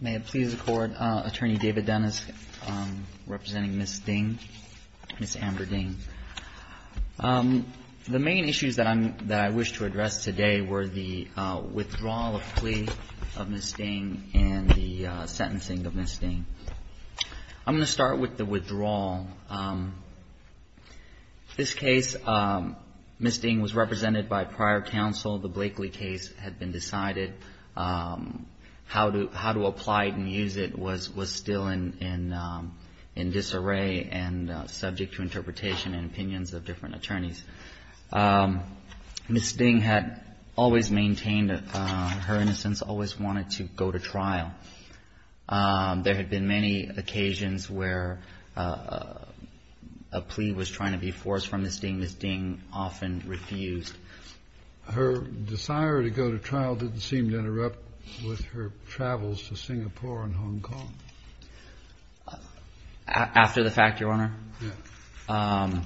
May it please the Court, Attorney David Dennis representing Ms. Ding, Ms. Amber Ding. The main issues that I wish to address today were the withdrawal of plea of Ms. Ding and the sentencing of Ms. Ding. I'm going to start with the withdrawal. This case, Ms. Ding was represented by prior counsel. The Blakely case had been decided. How to apply it and use it was still in disarray and subject to interpretation and opinions of different attorneys. Ms. Ding had always maintained her innocence, always wanted to go to trial. There had been many occasions where a plea was trying to be forced from Ms. Ding. Ms. Ding often refused. Her desire to go to trial didn't seem to interrupt with her travels to Singapore and Hong Kong. After the fact, Your Honor? Yeah.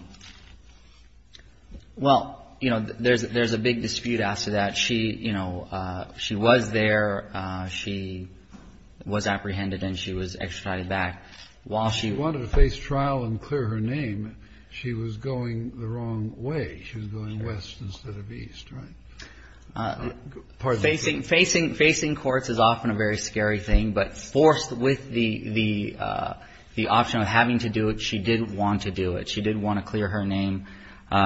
Well, you know, there's a big dispute after that. She, you know, she was there. She was apprehended and she was extradited back. While she wanted to face trial and clear her name, she was going the wrong way. She was going west instead of east, right? Facing courts is often a very scary thing, but forced with the option of having to do it, she did want to do it. She did want to clear her name.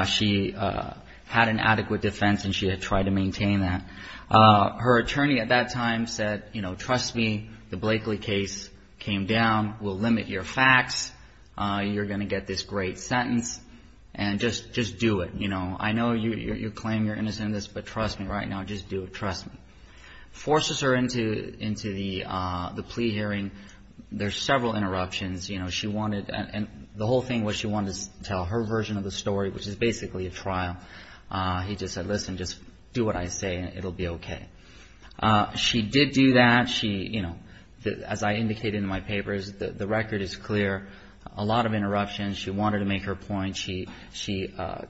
She had an adequate defense and she had tried to maintain that. Her attorney at that time said, you know, trust me, the Blakely case came down. We'll limit your facts. You're going to get this great sentence and just do it. You know, I know you claim your innocence, but trust me right now, just do it. Trust me. Forces her into the plea hearing. There's several interruptions. You know, she wanted and the whole thing was she wanted to tell her version of the story, which is basically a trial. He just said, listen, just do what I say and it'll be okay. She did do that. She, you know, as I indicated in my papers, the record is clear. A lot of interruptions. She wanted to make her point. She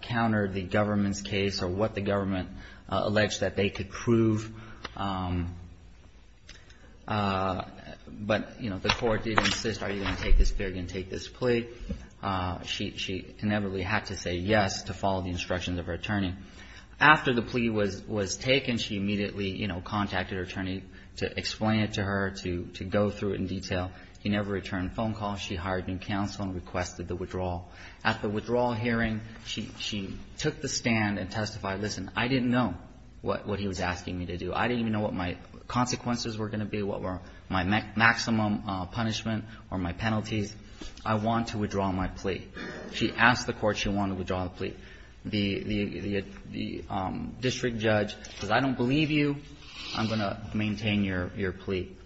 countered the government's case or what the government alleged that they could prove. But, you know, the court did insist, are you going to take this plea? She inevitably had to say yes to follow the instructions of her attorney. After the plea was taken, she immediately, you know, contacted her attorney to explain it to her, to go through it in detail. He never returned a phone call. She hired new counsel and requested the withdrawal. At the withdrawal hearing, she took the stand and testified, listen, I didn't know what he was asking me to do. I didn't even know what my consequences were going to be, what were my maximum punishment or my penalties. I want to withdraw my plea. She asked the court she wanted to withdraw the plea. The district judge says, I don't believe you. I'm going to maintain your plea.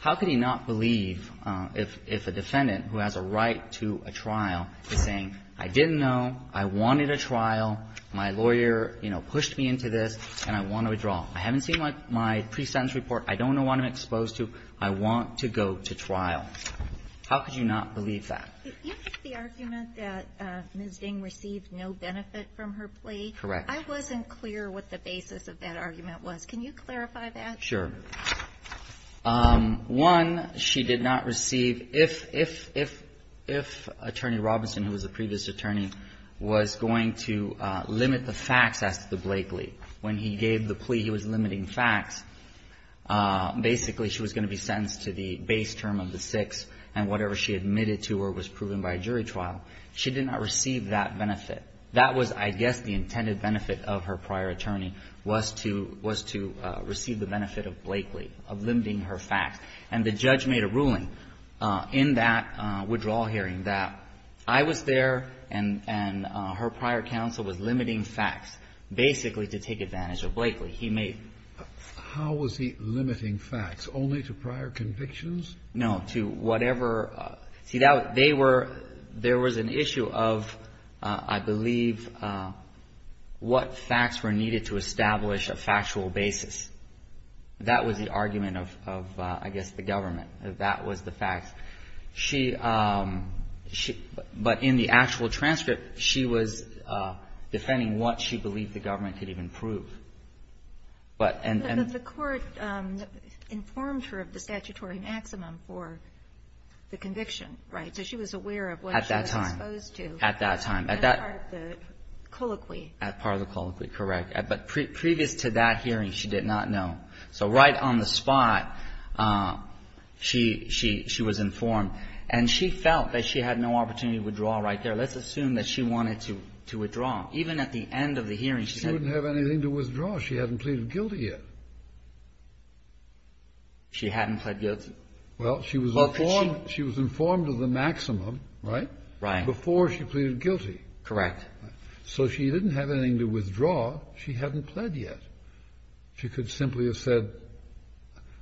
How could he not believe if a defendant who has a right to a trial is saying, I didn't know. I wanted a trial. My lawyer, you know, pushed me into this and I want to withdraw. I haven't seen my pre-sentence report. I don't know what I'm exposed to. I want to go to trial. How could you not believe that? You have the argument that Ms. Ding received no benefit from her plea. Correct. I wasn't clear what the basis of that argument was. Can you clarify that? Sure. One, she did not receive, if Attorney Robinson, who was a previous attorney, was going to limit the facts as to the Blakely, when he gave the plea he was limiting facts, basically she was going to be sentenced to the base term of the six, and whatever she admitted to her was proven by a jury trial. She did not receive that benefit. That was, I guess, the intended benefit of her prior attorney was to receive the benefit of Blakely, of limiting her facts. And the judge made a ruling in that withdrawal hearing that I was there and her prior counsel was limiting facts, basically to take advantage of Blakely. How was he limiting facts? Only to prior convictions? No, to whatever. See, there was an issue of, I believe, what facts were needed to establish a factual basis. That was the argument of, I guess, the government. That was the facts. But in the actual transcript, she was defending what she believed the government could even prove. But the court informed her of the statutory maximum for the conviction, right? So she was aware of what she was exposed to. At that time. At part of the colloquy. At part of the colloquy, correct. But previous to that hearing, she did not know. So right on the spot, she was informed. And she felt that she had no opportunity to withdraw right there. Let's assume that she wanted to withdraw. Even at the end of the hearing, she said. She didn't have anything to withdraw. She hadn't pleaded guilty yet. She hadn't pled guilty. Well, she was informed of the maximum, right? Right. Before she pleaded guilty. Correct. So she didn't have anything to withdraw. She hadn't pled yet. She could simply have said,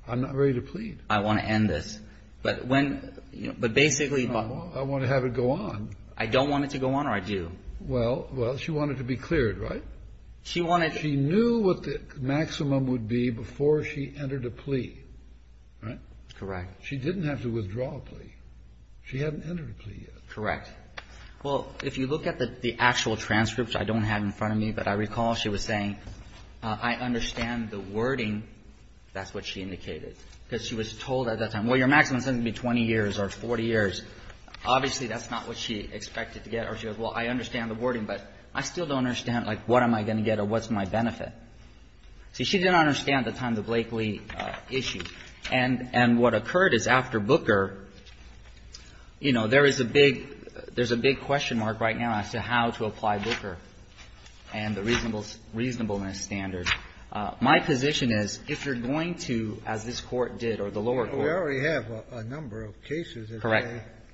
I'm not ready to plead. I want to end this. But when, but basically. I want to have it go on. I don't want it to go on, or I do. Well, she wanted to be cleared, right? She wanted. She knew what the maximum would be before she entered a plea, right? Correct. She didn't have to withdraw a plea. She hadn't entered a plea yet. Correct. Well, if you look at the actual transcript, which I don't have in front of me, but I recall she was saying, I understand the wording. That's what she indicated. Because she was told at that time, well, your maximum is going to be 20 years or 40 years. Obviously, that's not what she expected to get. Or she goes, well, I understand the wording, but I still don't understand, like, what am I going to get or what's my benefit? See, she didn't understand at the time the Blakely issue. And what occurred is after Booker, you know, there is a big, there's a big question mark right now as to how to apply Booker. And the reasonableness standard. My position is, if you're going to, as this Court did, or the lower court. We already have a number of cases. Correct.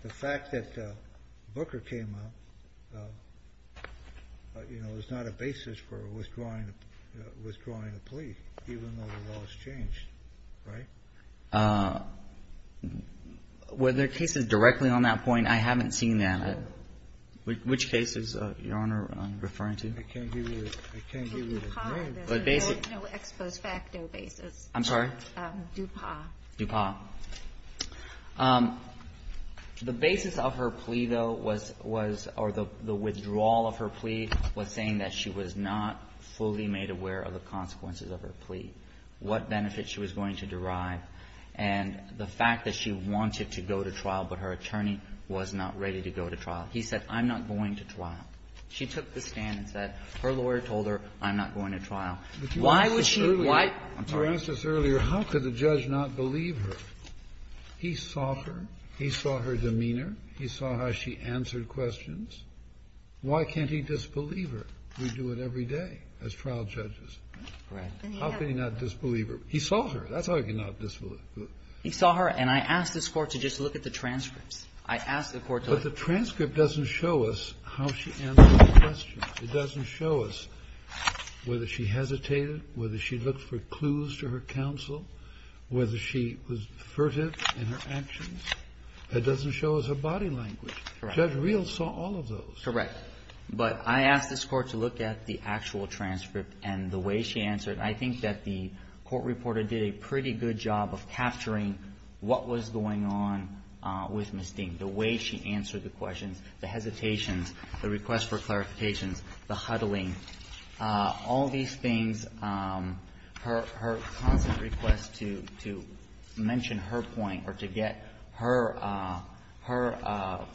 The fact that Booker came up, you know, is not a basis for withdrawing a plea, even though the law has changed. Right? Were there cases directly on that point? I haven't seen that. Which cases, Your Honor, are you referring to? I can't give you the name. No ex post facto basis. Dupas. Dupas. The basis of her plea, though, was, or the withdrawal of her plea was saying that she was not fully made aware of the consequences of her plea. What benefit she was going to derive. And the fact that she wanted to go to trial, but her attorney was not ready to go to trial. He said, I'm not going to trial. She took the stand and said, her lawyer told her, I'm not going to trial. Why would she? Why? You asked us earlier, how could the judge not believe her? He saw her. He saw her demeanor. He saw how she answered questions. Why can't he disbelieve her? We do it every day as trial judges. Correct. How can he not disbelieve her? He saw her. That's how he can not disbelieve her. He saw her. And I asked this Court to just look at the transcripts. I asked the Court to look. But the transcript doesn't show us how she answered the questions. It doesn't show us whether she hesitated, whether she looked for clues to her counsel, whether she was furtive in her actions. It doesn't show us her body language. Correct. Judge Reel saw all of those. Correct. But I asked this Court to look at the actual transcript and the way she answered. I think that the court reporter did a pretty good job of capturing what was going on with Ms. Ding, the way she answered the questions, the hesitations, the request for clarifications, the huddling, all these things. Her constant request to mention her point or to get her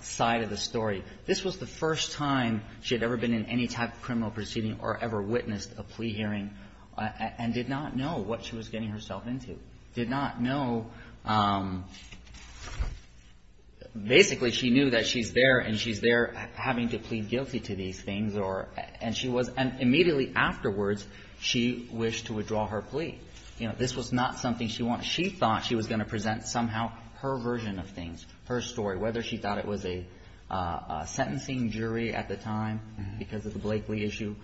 side of the story, this was the first time she had ever been in any type of criminal proceeding or ever witnessed a plea hearing and did not know what she was getting herself into, did not know. Basically, she knew that she's there and she's there having to plead guilty to these things. And immediately afterwards, she wished to withdraw her plea. This was not something she wanted. She thought she was going to present somehow her version of things, her story, whether she thought it was a sentencing jury at the time because of the Blakely issue,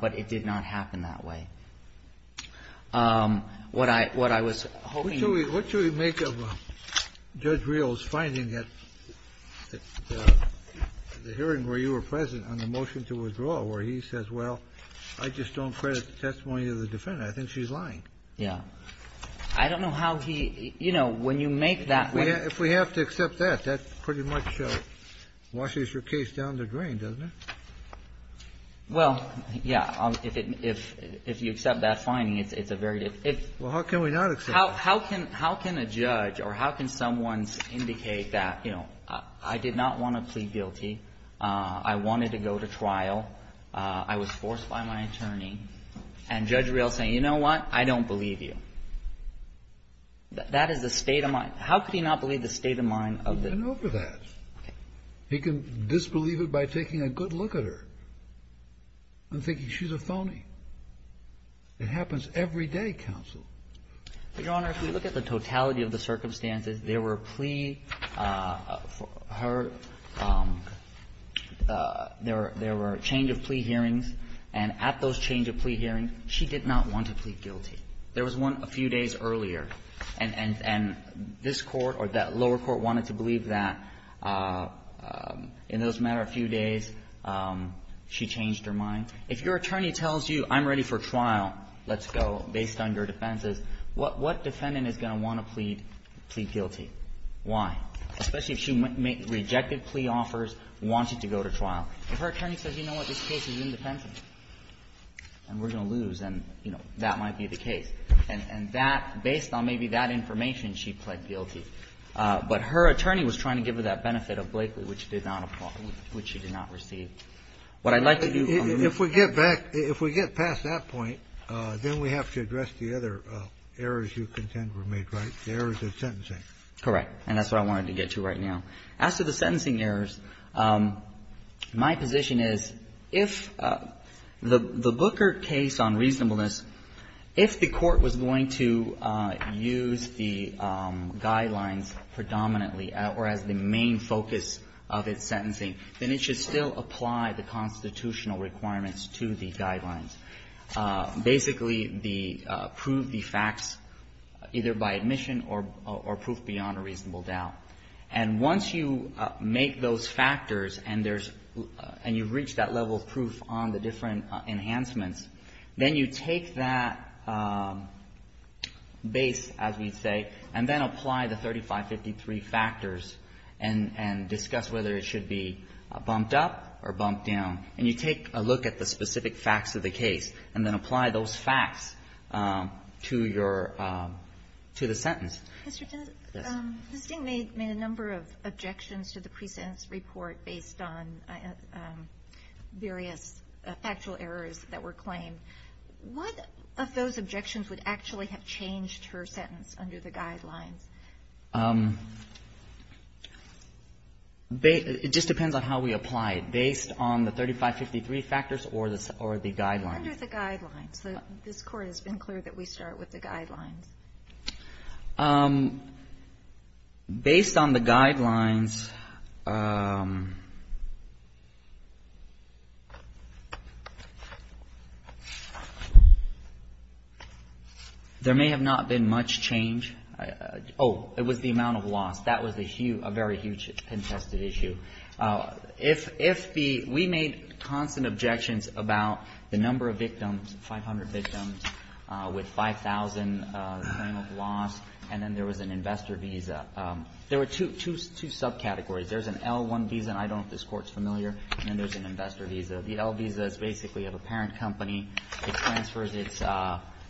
but it did not happen that way. What I was hoping you could do. Kennedy. What do we make of Judge Reel's finding at the hearing where you were present on the motion to withdraw, where he says, well, I just don't credit the testimony of the defendant. I think she's lying. Yeah. I don't know how he, you know, when you make that point. If we have to accept that, that pretty much washes your case down the drain, doesn't it? Well, yeah. If you accept that finding, it's a very difficult. Well, how can we not accept it? How can a judge or how can someone indicate that, you know, I did not want to plead guilty. I wanted to go to trial. I was forced by my attorney. And Judge Reel is saying, you know what, I don't believe you. That is the state of mind. How could he not believe the state of mind of the. He can over that. Okay. He can disbelieve it by taking a good look at her and thinking she's a phony. It happens every day, counsel. Your Honor, if you look at the totality of the circumstances, there were plea for her. There were a change of plea hearings. And at those change of plea hearings, she did not want to plead guilty. There was one a few days earlier. And this Court or that lower court wanted to believe that. In those matter of few days, she changed her mind. If your attorney tells you I'm ready for trial, let's go, based on your defenses, what defendant is going to want to plead guilty? Why? Especially if she rejected plea offers, wanted to go to trial. If her attorney says, you know what, this case is independent, and we're going to lose, then, you know, that might be the case. And that, based on maybe that information, she pled guilty. But her attorney was trying to give her that benefit of Blakely, which did not apply or which she did not receive. What I'd like to do on this case. If we get back, if we get past that point, then we have to address the other errors you contend were made right, the errors of sentencing. Correct. And that's what I wanted to get to right now. As to the sentencing errors, my position is, if the Booker case on reasonableness, if the court was going to use the guidelines predominantly or as the main focus of its sentencing, then it should still apply the constitutional requirements to the guidelines. Basically, the proof, the facts, either by admission or proof beyond a reasonable doubt. And once you make those factors and there's – and you've reached that level of proof on the different enhancements, then you take that base, as we say, and then apply the 3553 factors and discuss whether it should be bumped up or bumped down. And you take a look at the specific facts of the case and then apply those facts to your – to the sentence. Mr. Ginsburg. Ms. Stink made a number of objections to the pre-sentence report based on various factual errors that were claimed. What of those objections would actually have changed her sentence under the guidelines? It just depends on how we apply it, based on the 3553 factors or the guidelines. Under the guidelines. Based on the guidelines, there may have not been much change. Oh, it was the amount of loss. That was a huge – a very huge contested issue. If the – we made constant objections about the number of victims, 500 victims, with 5,000 claim of loss, and then there was an investor visa. There were two subcategories. There's an L-1 visa, and I don't know if this Court's familiar, and then there's an investor visa. The L visa is basically of a parent company. It transfers its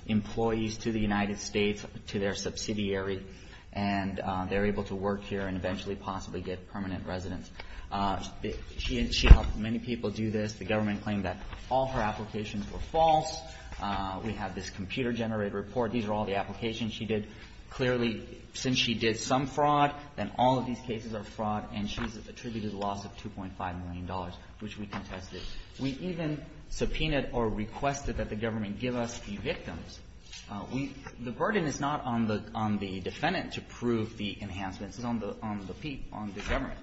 employees to the United States to their subsidiary, and they're able to work here and eventually possibly get permanent residence. She helped many people do this. The government claimed that all her applications were false. We have this computer-generated report. These are all the applications she did. Clearly, since she did some fraud, then all of these cases are fraud, and she's attributed a loss of $2.5 million, which we contested. We even subpoenaed or requested that the government give us the victims. We – the burden is not on the – on the defendant to prove the enhancements. It's on the – on the government.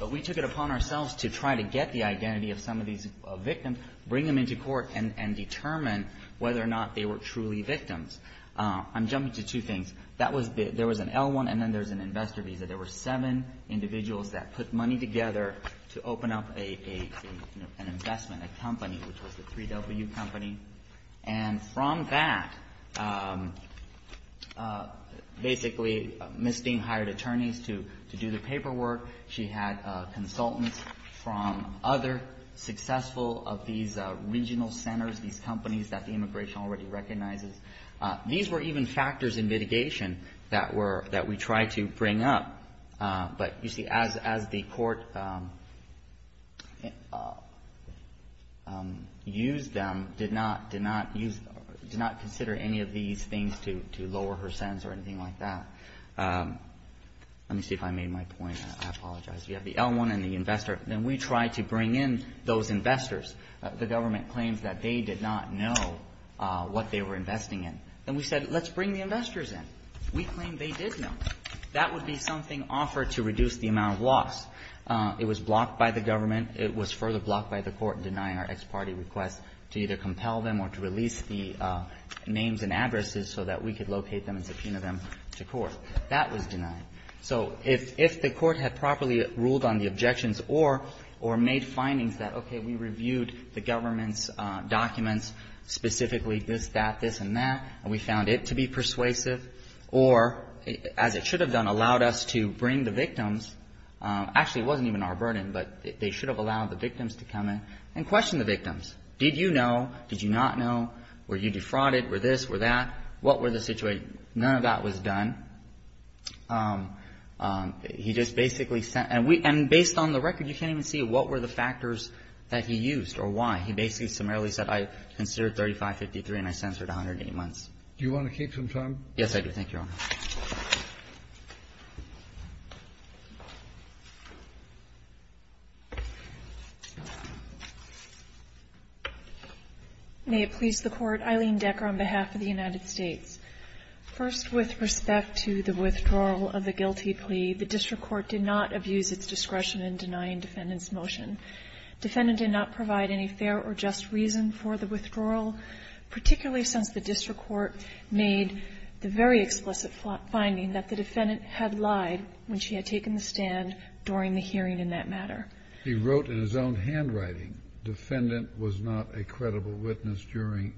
But we took it upon ourselves to try to get the identity of some of these victims, bring them into court, and determine whether or not they were truly victims. I'm jumping to two things. That was – there was an L-1, and then there's an investor visa. There were seven individuals that put money together to open up a – an investment, a company, which was the 3W Company. And from that, basically, Ms. Steen hired attorneys to do the paperwork. She had consultants from other successful of these regional centers, these companies that the immigration already recognizes. These were even factors in litigation that were – that we tried to bring up. But, you see, as the court used them, did not – did not use – did not consider any of these things to lower her sentence or anything like that. Let me see if I made my point. I apologize. You have the L-1 and the investor. Then we tried to bring in those investors. The government claims that they did not know what they were investing in. Then we said, let's bring the investors in. We claimed they did know. That would be something offered to reduce the amount of loss. It was blocked by the government. It was further blocked by the court in denying our ex parte request to either compel them or to release the names and addresses so that we could locate them and subpoena them to court. That was denied. So if the court had properly ruled on the objections or made findings that, okay, we reviewed the government's documents, specifically this, that, this, and that, and we found it to be persuasive, or, as it should have done, allowed us to bring the victims – actually, it wasn't even our burden, but they should have allowed the victims to come in and question the victims. Did you know? Did you not know? Were you defrauded? Were this, were that? What were the – none of that was done. He just basically – and based on the record, you can't even see what were the factors that he used or why. He basically summarily said, I considered 3553 and I censored 108 months. Do you want to keep some time? Yes, I do. May it please the Court. Eileen Decker on behalf of the United States. First, with respect to the withdrawal of the guilty plea, the district court did not abuse its discretion in denying defendant's motion. Defendant did not provide any fair or just reason for the withdrawal, particularly since the district court made the very explicit finding that the defendant had lied when she had taken the stand during the hearing in that matter. He wrote in his own handwriting, defendant was not a credible witness during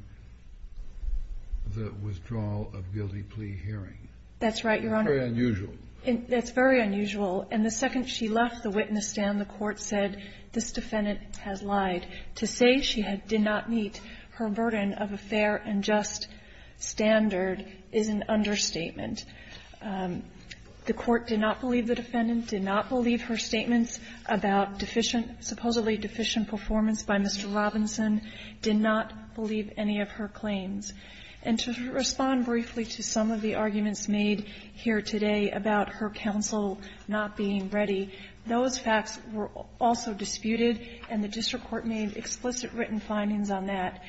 the withdrawal of guilty plea hearing. That's right, Your Honor. That's very unusual. That's very unusual. And the second she left the witness stand, the court said, this defendant has lied. To say she did not meet her burden of a fair and just standard is an understatement. The court did not believe the defendant, did not believe her statements about deficient --"supposedly deficient performance by Mr. Robinson," did not believe any of her claims. And to respond briefly to some of the arguments made here today about her counsel not being ready, those facts were also disputed, and the district court made explicit written findings on that.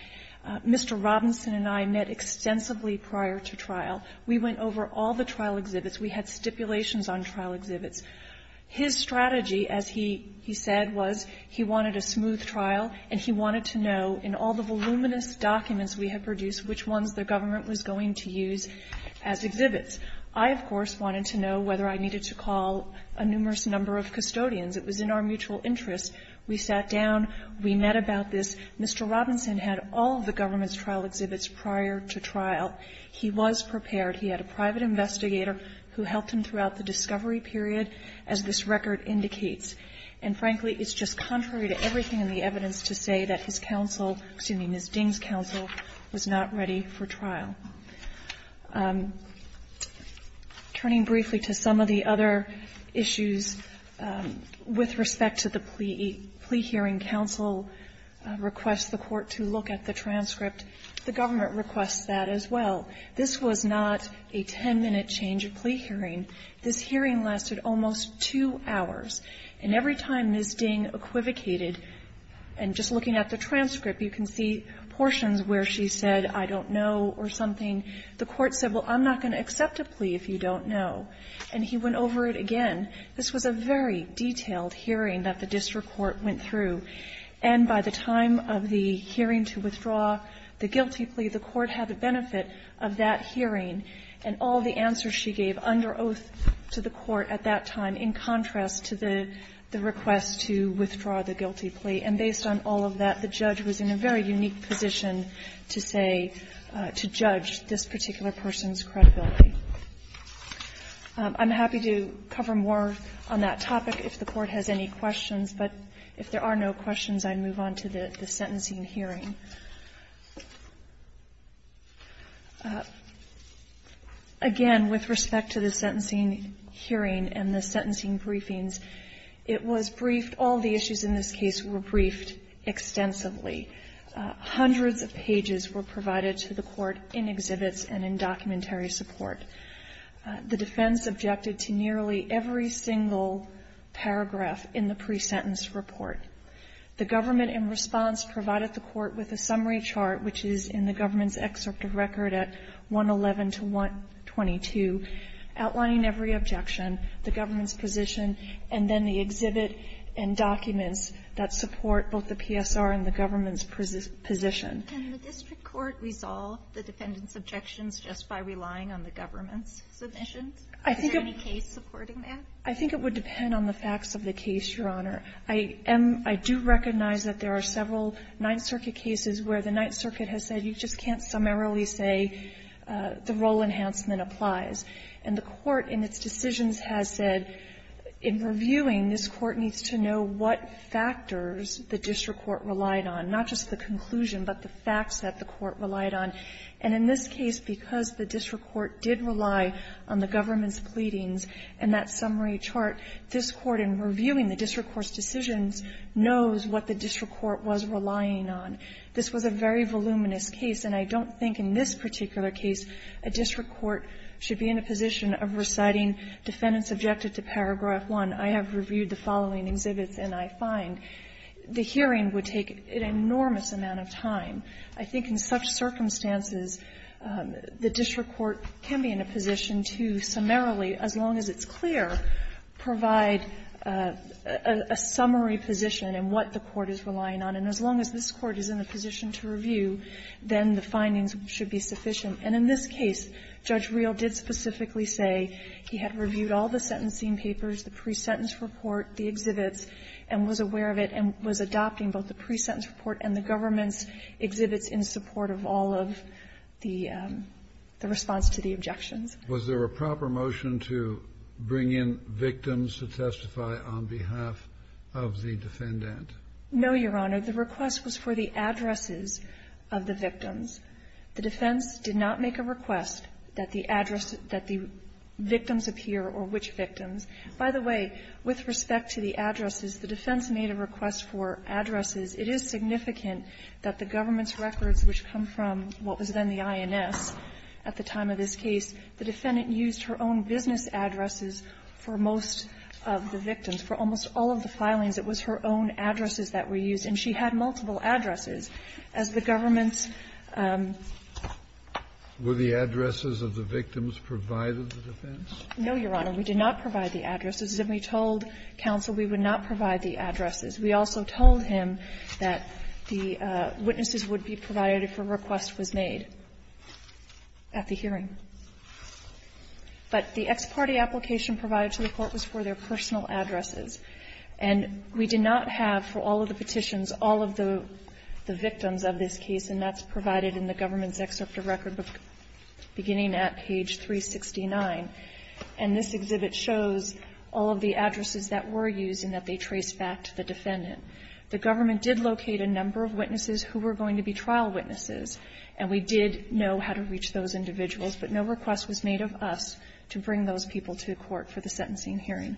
Mr. Robinson and I met extensively prior to trial. We went over all the trial exhibits. We had stipulations on trial exhibits. His strategy, as he said, was he wanted a smooth trial, and he wanted to know in all the voluminous documents we had produced which ones the government was going to use as exhibits. I, of course, wanted to know whether I needed to call a numerous number of custodians. It was in our mutual interest. We sat down. We met about this. Mr. Robinson had all of the government's trial exhibits prior to trial. He was prepared. He had a private investigator who helped him throughout the discovery period, as this record indicates. And frankly, it's just contrary to everything in the evidence to say that his counsel --"excuse me, Ms. Ding's counsel was not ready for trial. Turning briefly to some of the other issues, with respect to the plea hearing, counsel requests the court to look at the transcript. The government requests that as well. This was not a 10-minute change of plea hearing. This hearing lasted almost two hours. And every time Ms. Ding equivocated, and just looking at the transcript, you can see that the court said, well, I'm not going to accept a plea if you don't know, and he went over it again. This was a very detailed hearing that the district court went through, and by the time of the hearing to withdraw the guilty plea, the court had the benefit of that hearing and all the answers she gave under oath to the court at that time, in contrast to the request to withdraw the guilty plea. And based on all of that, the judge was in a very unique position to say, to judge this particular person's credibility. I'm happy to cover more on that topic if the Court has any questions, but if there are no questions, I'd move on to the sentencing hearing. Again, with respect to the sentencing hearing and the sentencing briefings, it was briefed, all the issues in this case were briefed extensively. Hundreds of pages were provided to the court in exhibits and in documentary support. The defense objected to nearly every single paragraph in the pre-sentence report. The government in response provided the court with a summary chart, which is in the government's excerpt of record at 111 to 122, outlining every objection, the government's position, and then the exhibit and documents that support both the PSR and the government's position. Can the district court resolve the defendant's objections just by relying on the government's submissions? Is there any case supporting that? I think it would depend on the facts of the case, Your Honor. I am — I do recognize that there are several Ninth Circuit cases where the Ninth Circuit has said you just can't summarily say the role enhancement applies. And the court in its decisions has said in reviewing, this court needs to know what factors the district court relied on, not just the conclusion, but the facts that the court relied on. And in this case, because the district court did rely on the government's pleadings and that summary chart, this court in reviewing the district court's decisions knows what the district court was relying on. This was a very voluminous case, and I don't think in this particular case a district court should be in a position of reciting defendants objected to paragraph 1. I have reviewed the following exhibits, and I find the hearing would take an enormous amount of time. I think in such circumstances, the district court can be in a position to summarily, as long as it's clear, provide a summary position in what the court is relying on, and as long as this court is in a position to review, then the findings should be sufficient. And in this case, Judge Reel did specifically say he had reviewed all the sentencing papers, the pre-sentence report, the exhibits, and was aware of it and was adopting both the pre-sentence report and the government's exhibits in support of all of the response to the objections. Kennedy. Was there a proper motion to bring in victims to testify on behalf of the defendant? No, Your Honor. The request was for the addresses of the victims. The defense did not make a request that the address that the victims appear or which victims. By the way, with respect to the addresses, the defense made a request for addresses. It is significant that the government's records, which come from what was then the INS at the time of this case, the defendant used her own business addresses for most of the victims. For almost all of the filings, it was her own addresses that were used, and she had her own business addresses. Were the addresses of the victims provided to the defense? No, Your Honor. We did not provide the addresses. And we told counsel we would not provide the addresses. We also told him that the witnesses would be provided if a request was made at the hearing. But the ex parte application provided to the court was for their personal addresses. And we did not have for all of the petitions all of the victims of this case, and that's provided in the government's excerpt of record beginning at page 369. And this exhibit shows all of the addresses that were used and that they trace back to the defendant. The government did locate a number of witnesses who were going to be trial witnesses, and we did know how to reach those individuals. But no request was made of us to bring those people to the court for the sentencing hearing.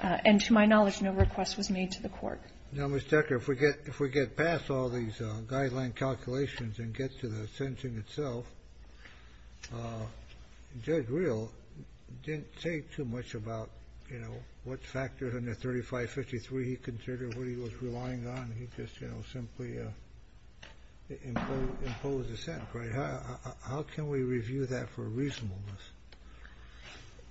And to my knowledge, no request was made to the court. Now, Ms. Decker, if we get past all these guideline calculations and get to the sentencing itself, Judge Reel didn't say too much about, you know, what factors under 3553 he considered, what he was relying on. He just, you know, simply imposed a sentence, right? How can we review that for reasonableness?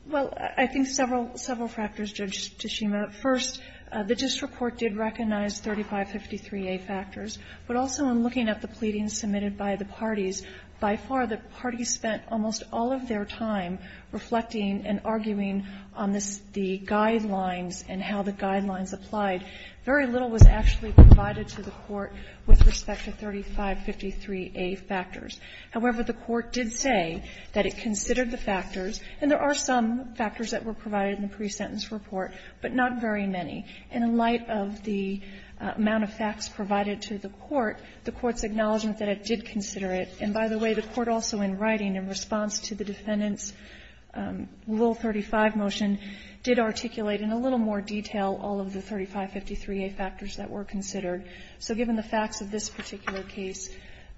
Well, I think several factors, Judge Toshima. First, the district court did recognize 3553a factors, but also in looking at the pleadings submitted by the parties, by far the parties spent almost all of their time reflecting and arguing on the guidelines and how the guidelines applied. Very little was actually provided to the court with respect to 3553a factors. However, the court did say that it considered the factors, and there are some factors that were provided in the pre-sentence report, but not very many. And in light of the amount of facts provided to the court, the court's acknowledgment that it did consider it. And by the way, the court also in writing in response to the defendant's Rule 35 motion did articulate in a little more detail all of the 3553a factors that were considered. So given the facts of this particular case,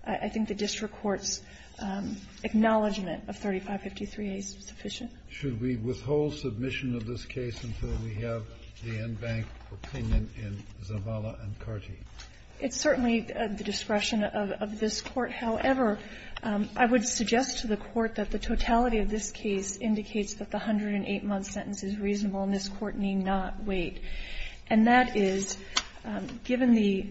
I think the district court's acknowledgment of 3553a is sufficient. Should we withhold submission of this case until we have the en banc opinion in Zavala and Carty? It's certainly the discretion of this Court. However, I would suggest to the Court that the totality of this case indicates that the 108-month sentence is reasonable, and this Court need not wait. And that is, given the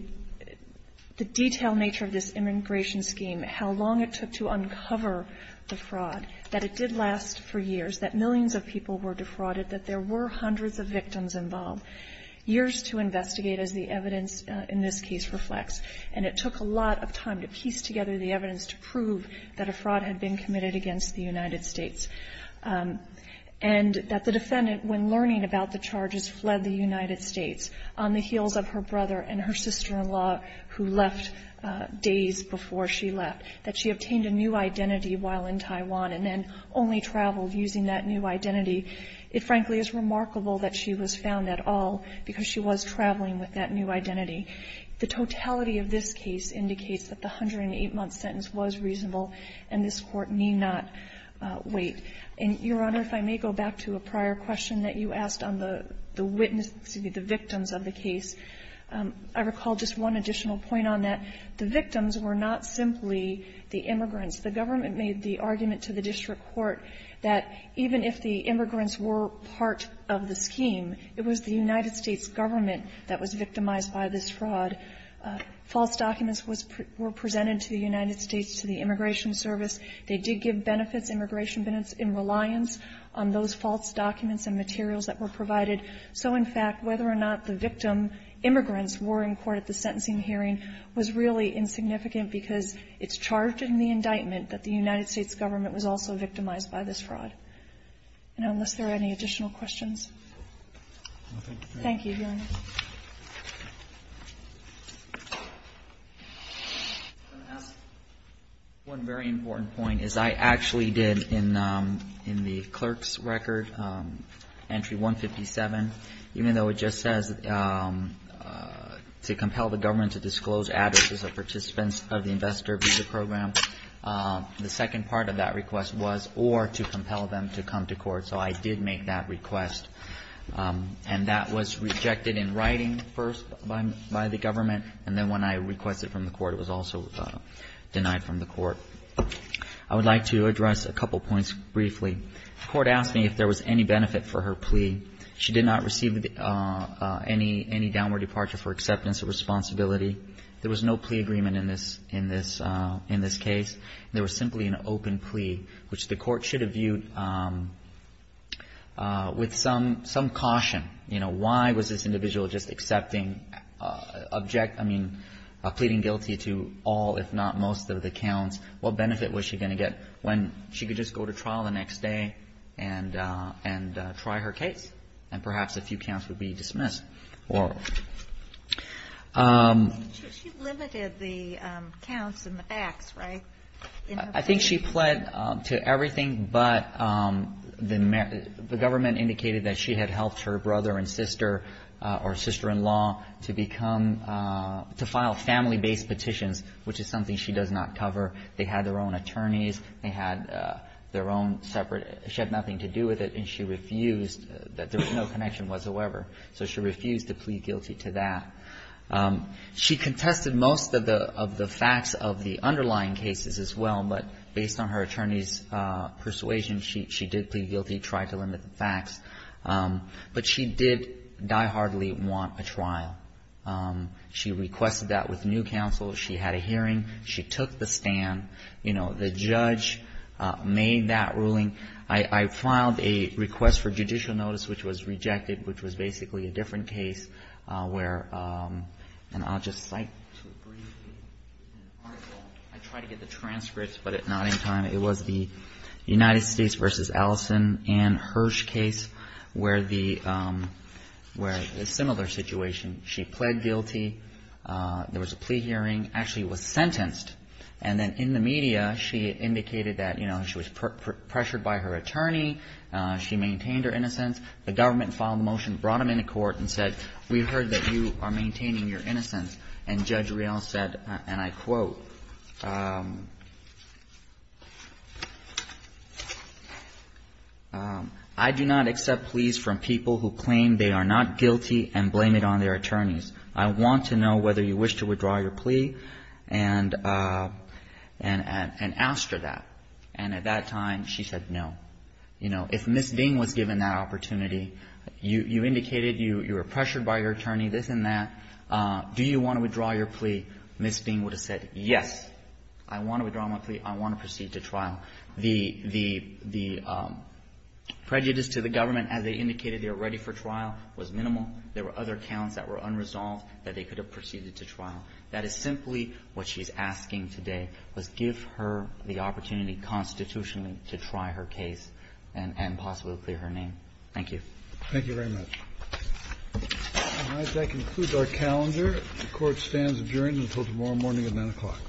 detailed nature of this immigration scheme, how long it took to uncover the fraud, that it did last for years, that millions of people were defrauded, that there were hundreds of victims involved, years to investigate, as the evidence in this case reflects. And it took a lot of time to piece together the evidence to prove that a fraud had been committed against the United States. And that the defendant, when learning about the charges, fled the United States on the heels of her brother and her sister-in-law, who left days before she left. That she obtained a new identity while in Taiwan and then only traveled using that new identity. It, frankly, is remarkable that she was found at all, because she was traveling with that new identity. The totality of this case indicates that the 108-month sentence was reasonable, and this Court need not wait. And, Your Honor, if I may go back to a prior question that you asked on the witness to be the victims of the case, I recall just one additional point on that. The victims were not simply the immigrants. The government made the argument to the district court that even if the immigrants were part of the scheme, it was the United States government that was victimized by this fraud. False documents were presented to the United States to the Immigration Service. They did give benefits, immigration benefits, in reliance on those false documents and materials that were provided. So, in fact, whether or not the victim immigrants were in court at the sentencing hearing was really insignificant, because it's charged in the indictment that the United States government was also victimized by this fraud. And unless there are any additional questions. Thank you, Your Honor. One very important point is I actually did in the clerk's record, Entry 157, even to disclose addresses of participants of the Investor Visa Program, the second part of that request was or to compel them to come to court. So I did make that request. And that was rejected in writing first by the government, and then when I requested from the court, it was also denied from the court. I would like to address a couple points briefly. The court asked me if there was any benefit for her plea. She did not receive any downward departure for acceptance or responsibility. There was no plea agreement in this case. There was simply an open plea, which the court should have viewed with some caution. You know, why was this individual just accepting, object, I mean, pleading guilty to all, if not most, of the counts? What benefit was she going to get when she could just go to trial the next day and try her case? And perhaps a few counts would be dismissed. She limited the counts and the facts, right? I think she pled to everything, but the government indicated that she had helped her brother and sister or sister-in-law to become, to file family-based petitions, which is something she does not cover. They had their own attorneys. They had their own separate, she had nothing to do with it. And she refused, there was no connection whatsoever. So she refused to plead guilty to that. She contested most of the facts of the underlying cases as well, but based on her attorney's persuasion, she did plead guilty, tried to limit the facts. But she did die-hardly want a trial. She requested that with new counsel. She had a hearing. She took the stand. You know, the judge made that ruling. I filed a request for judicial notice, which was rejected, which was basically a different case where, and I'll just cite a brief article, I tried to get the transcripts, but at not any time. It was the United States v. Allison, Ann Hirsch case, where the, where a similar situation. She pled guilty. There was a plea hearing. Actually was sentenced. And then in the media, she indicated that, you know, she was pressured by her attorney. She maintained her innocence. The government filed a motion, brought him into court and said, we've heard that you are maintaining your innocence. And Judge Real said, and I quote, I do not accept pleas from people who claim they are not guilty and blame it on their attorneys. I want to know whether you wish to withdraw your plea and, and, and asked her that. And at that time she said no. You know, if Ms. Ding was given that opportunity, you indicated you were pressured by your attorney, this and that. Do you want to withdraw your plea? Ms. Ding would have said yes. I want to withdraw my plea. I want to proceed to trial. The, the, the prejudice to the government as they indicated they were ready for trial was minimal. There were other counts that were unresolved that they could have proceeded to trial. That is simply what she's asking today, was give her the opportunity constitutionally to try her case and, and possibly clear her name. Thank you. Thank you very much. All right. That concludes our calendar. The Court stands adjourned until tomorrow morning at 9 o'clock.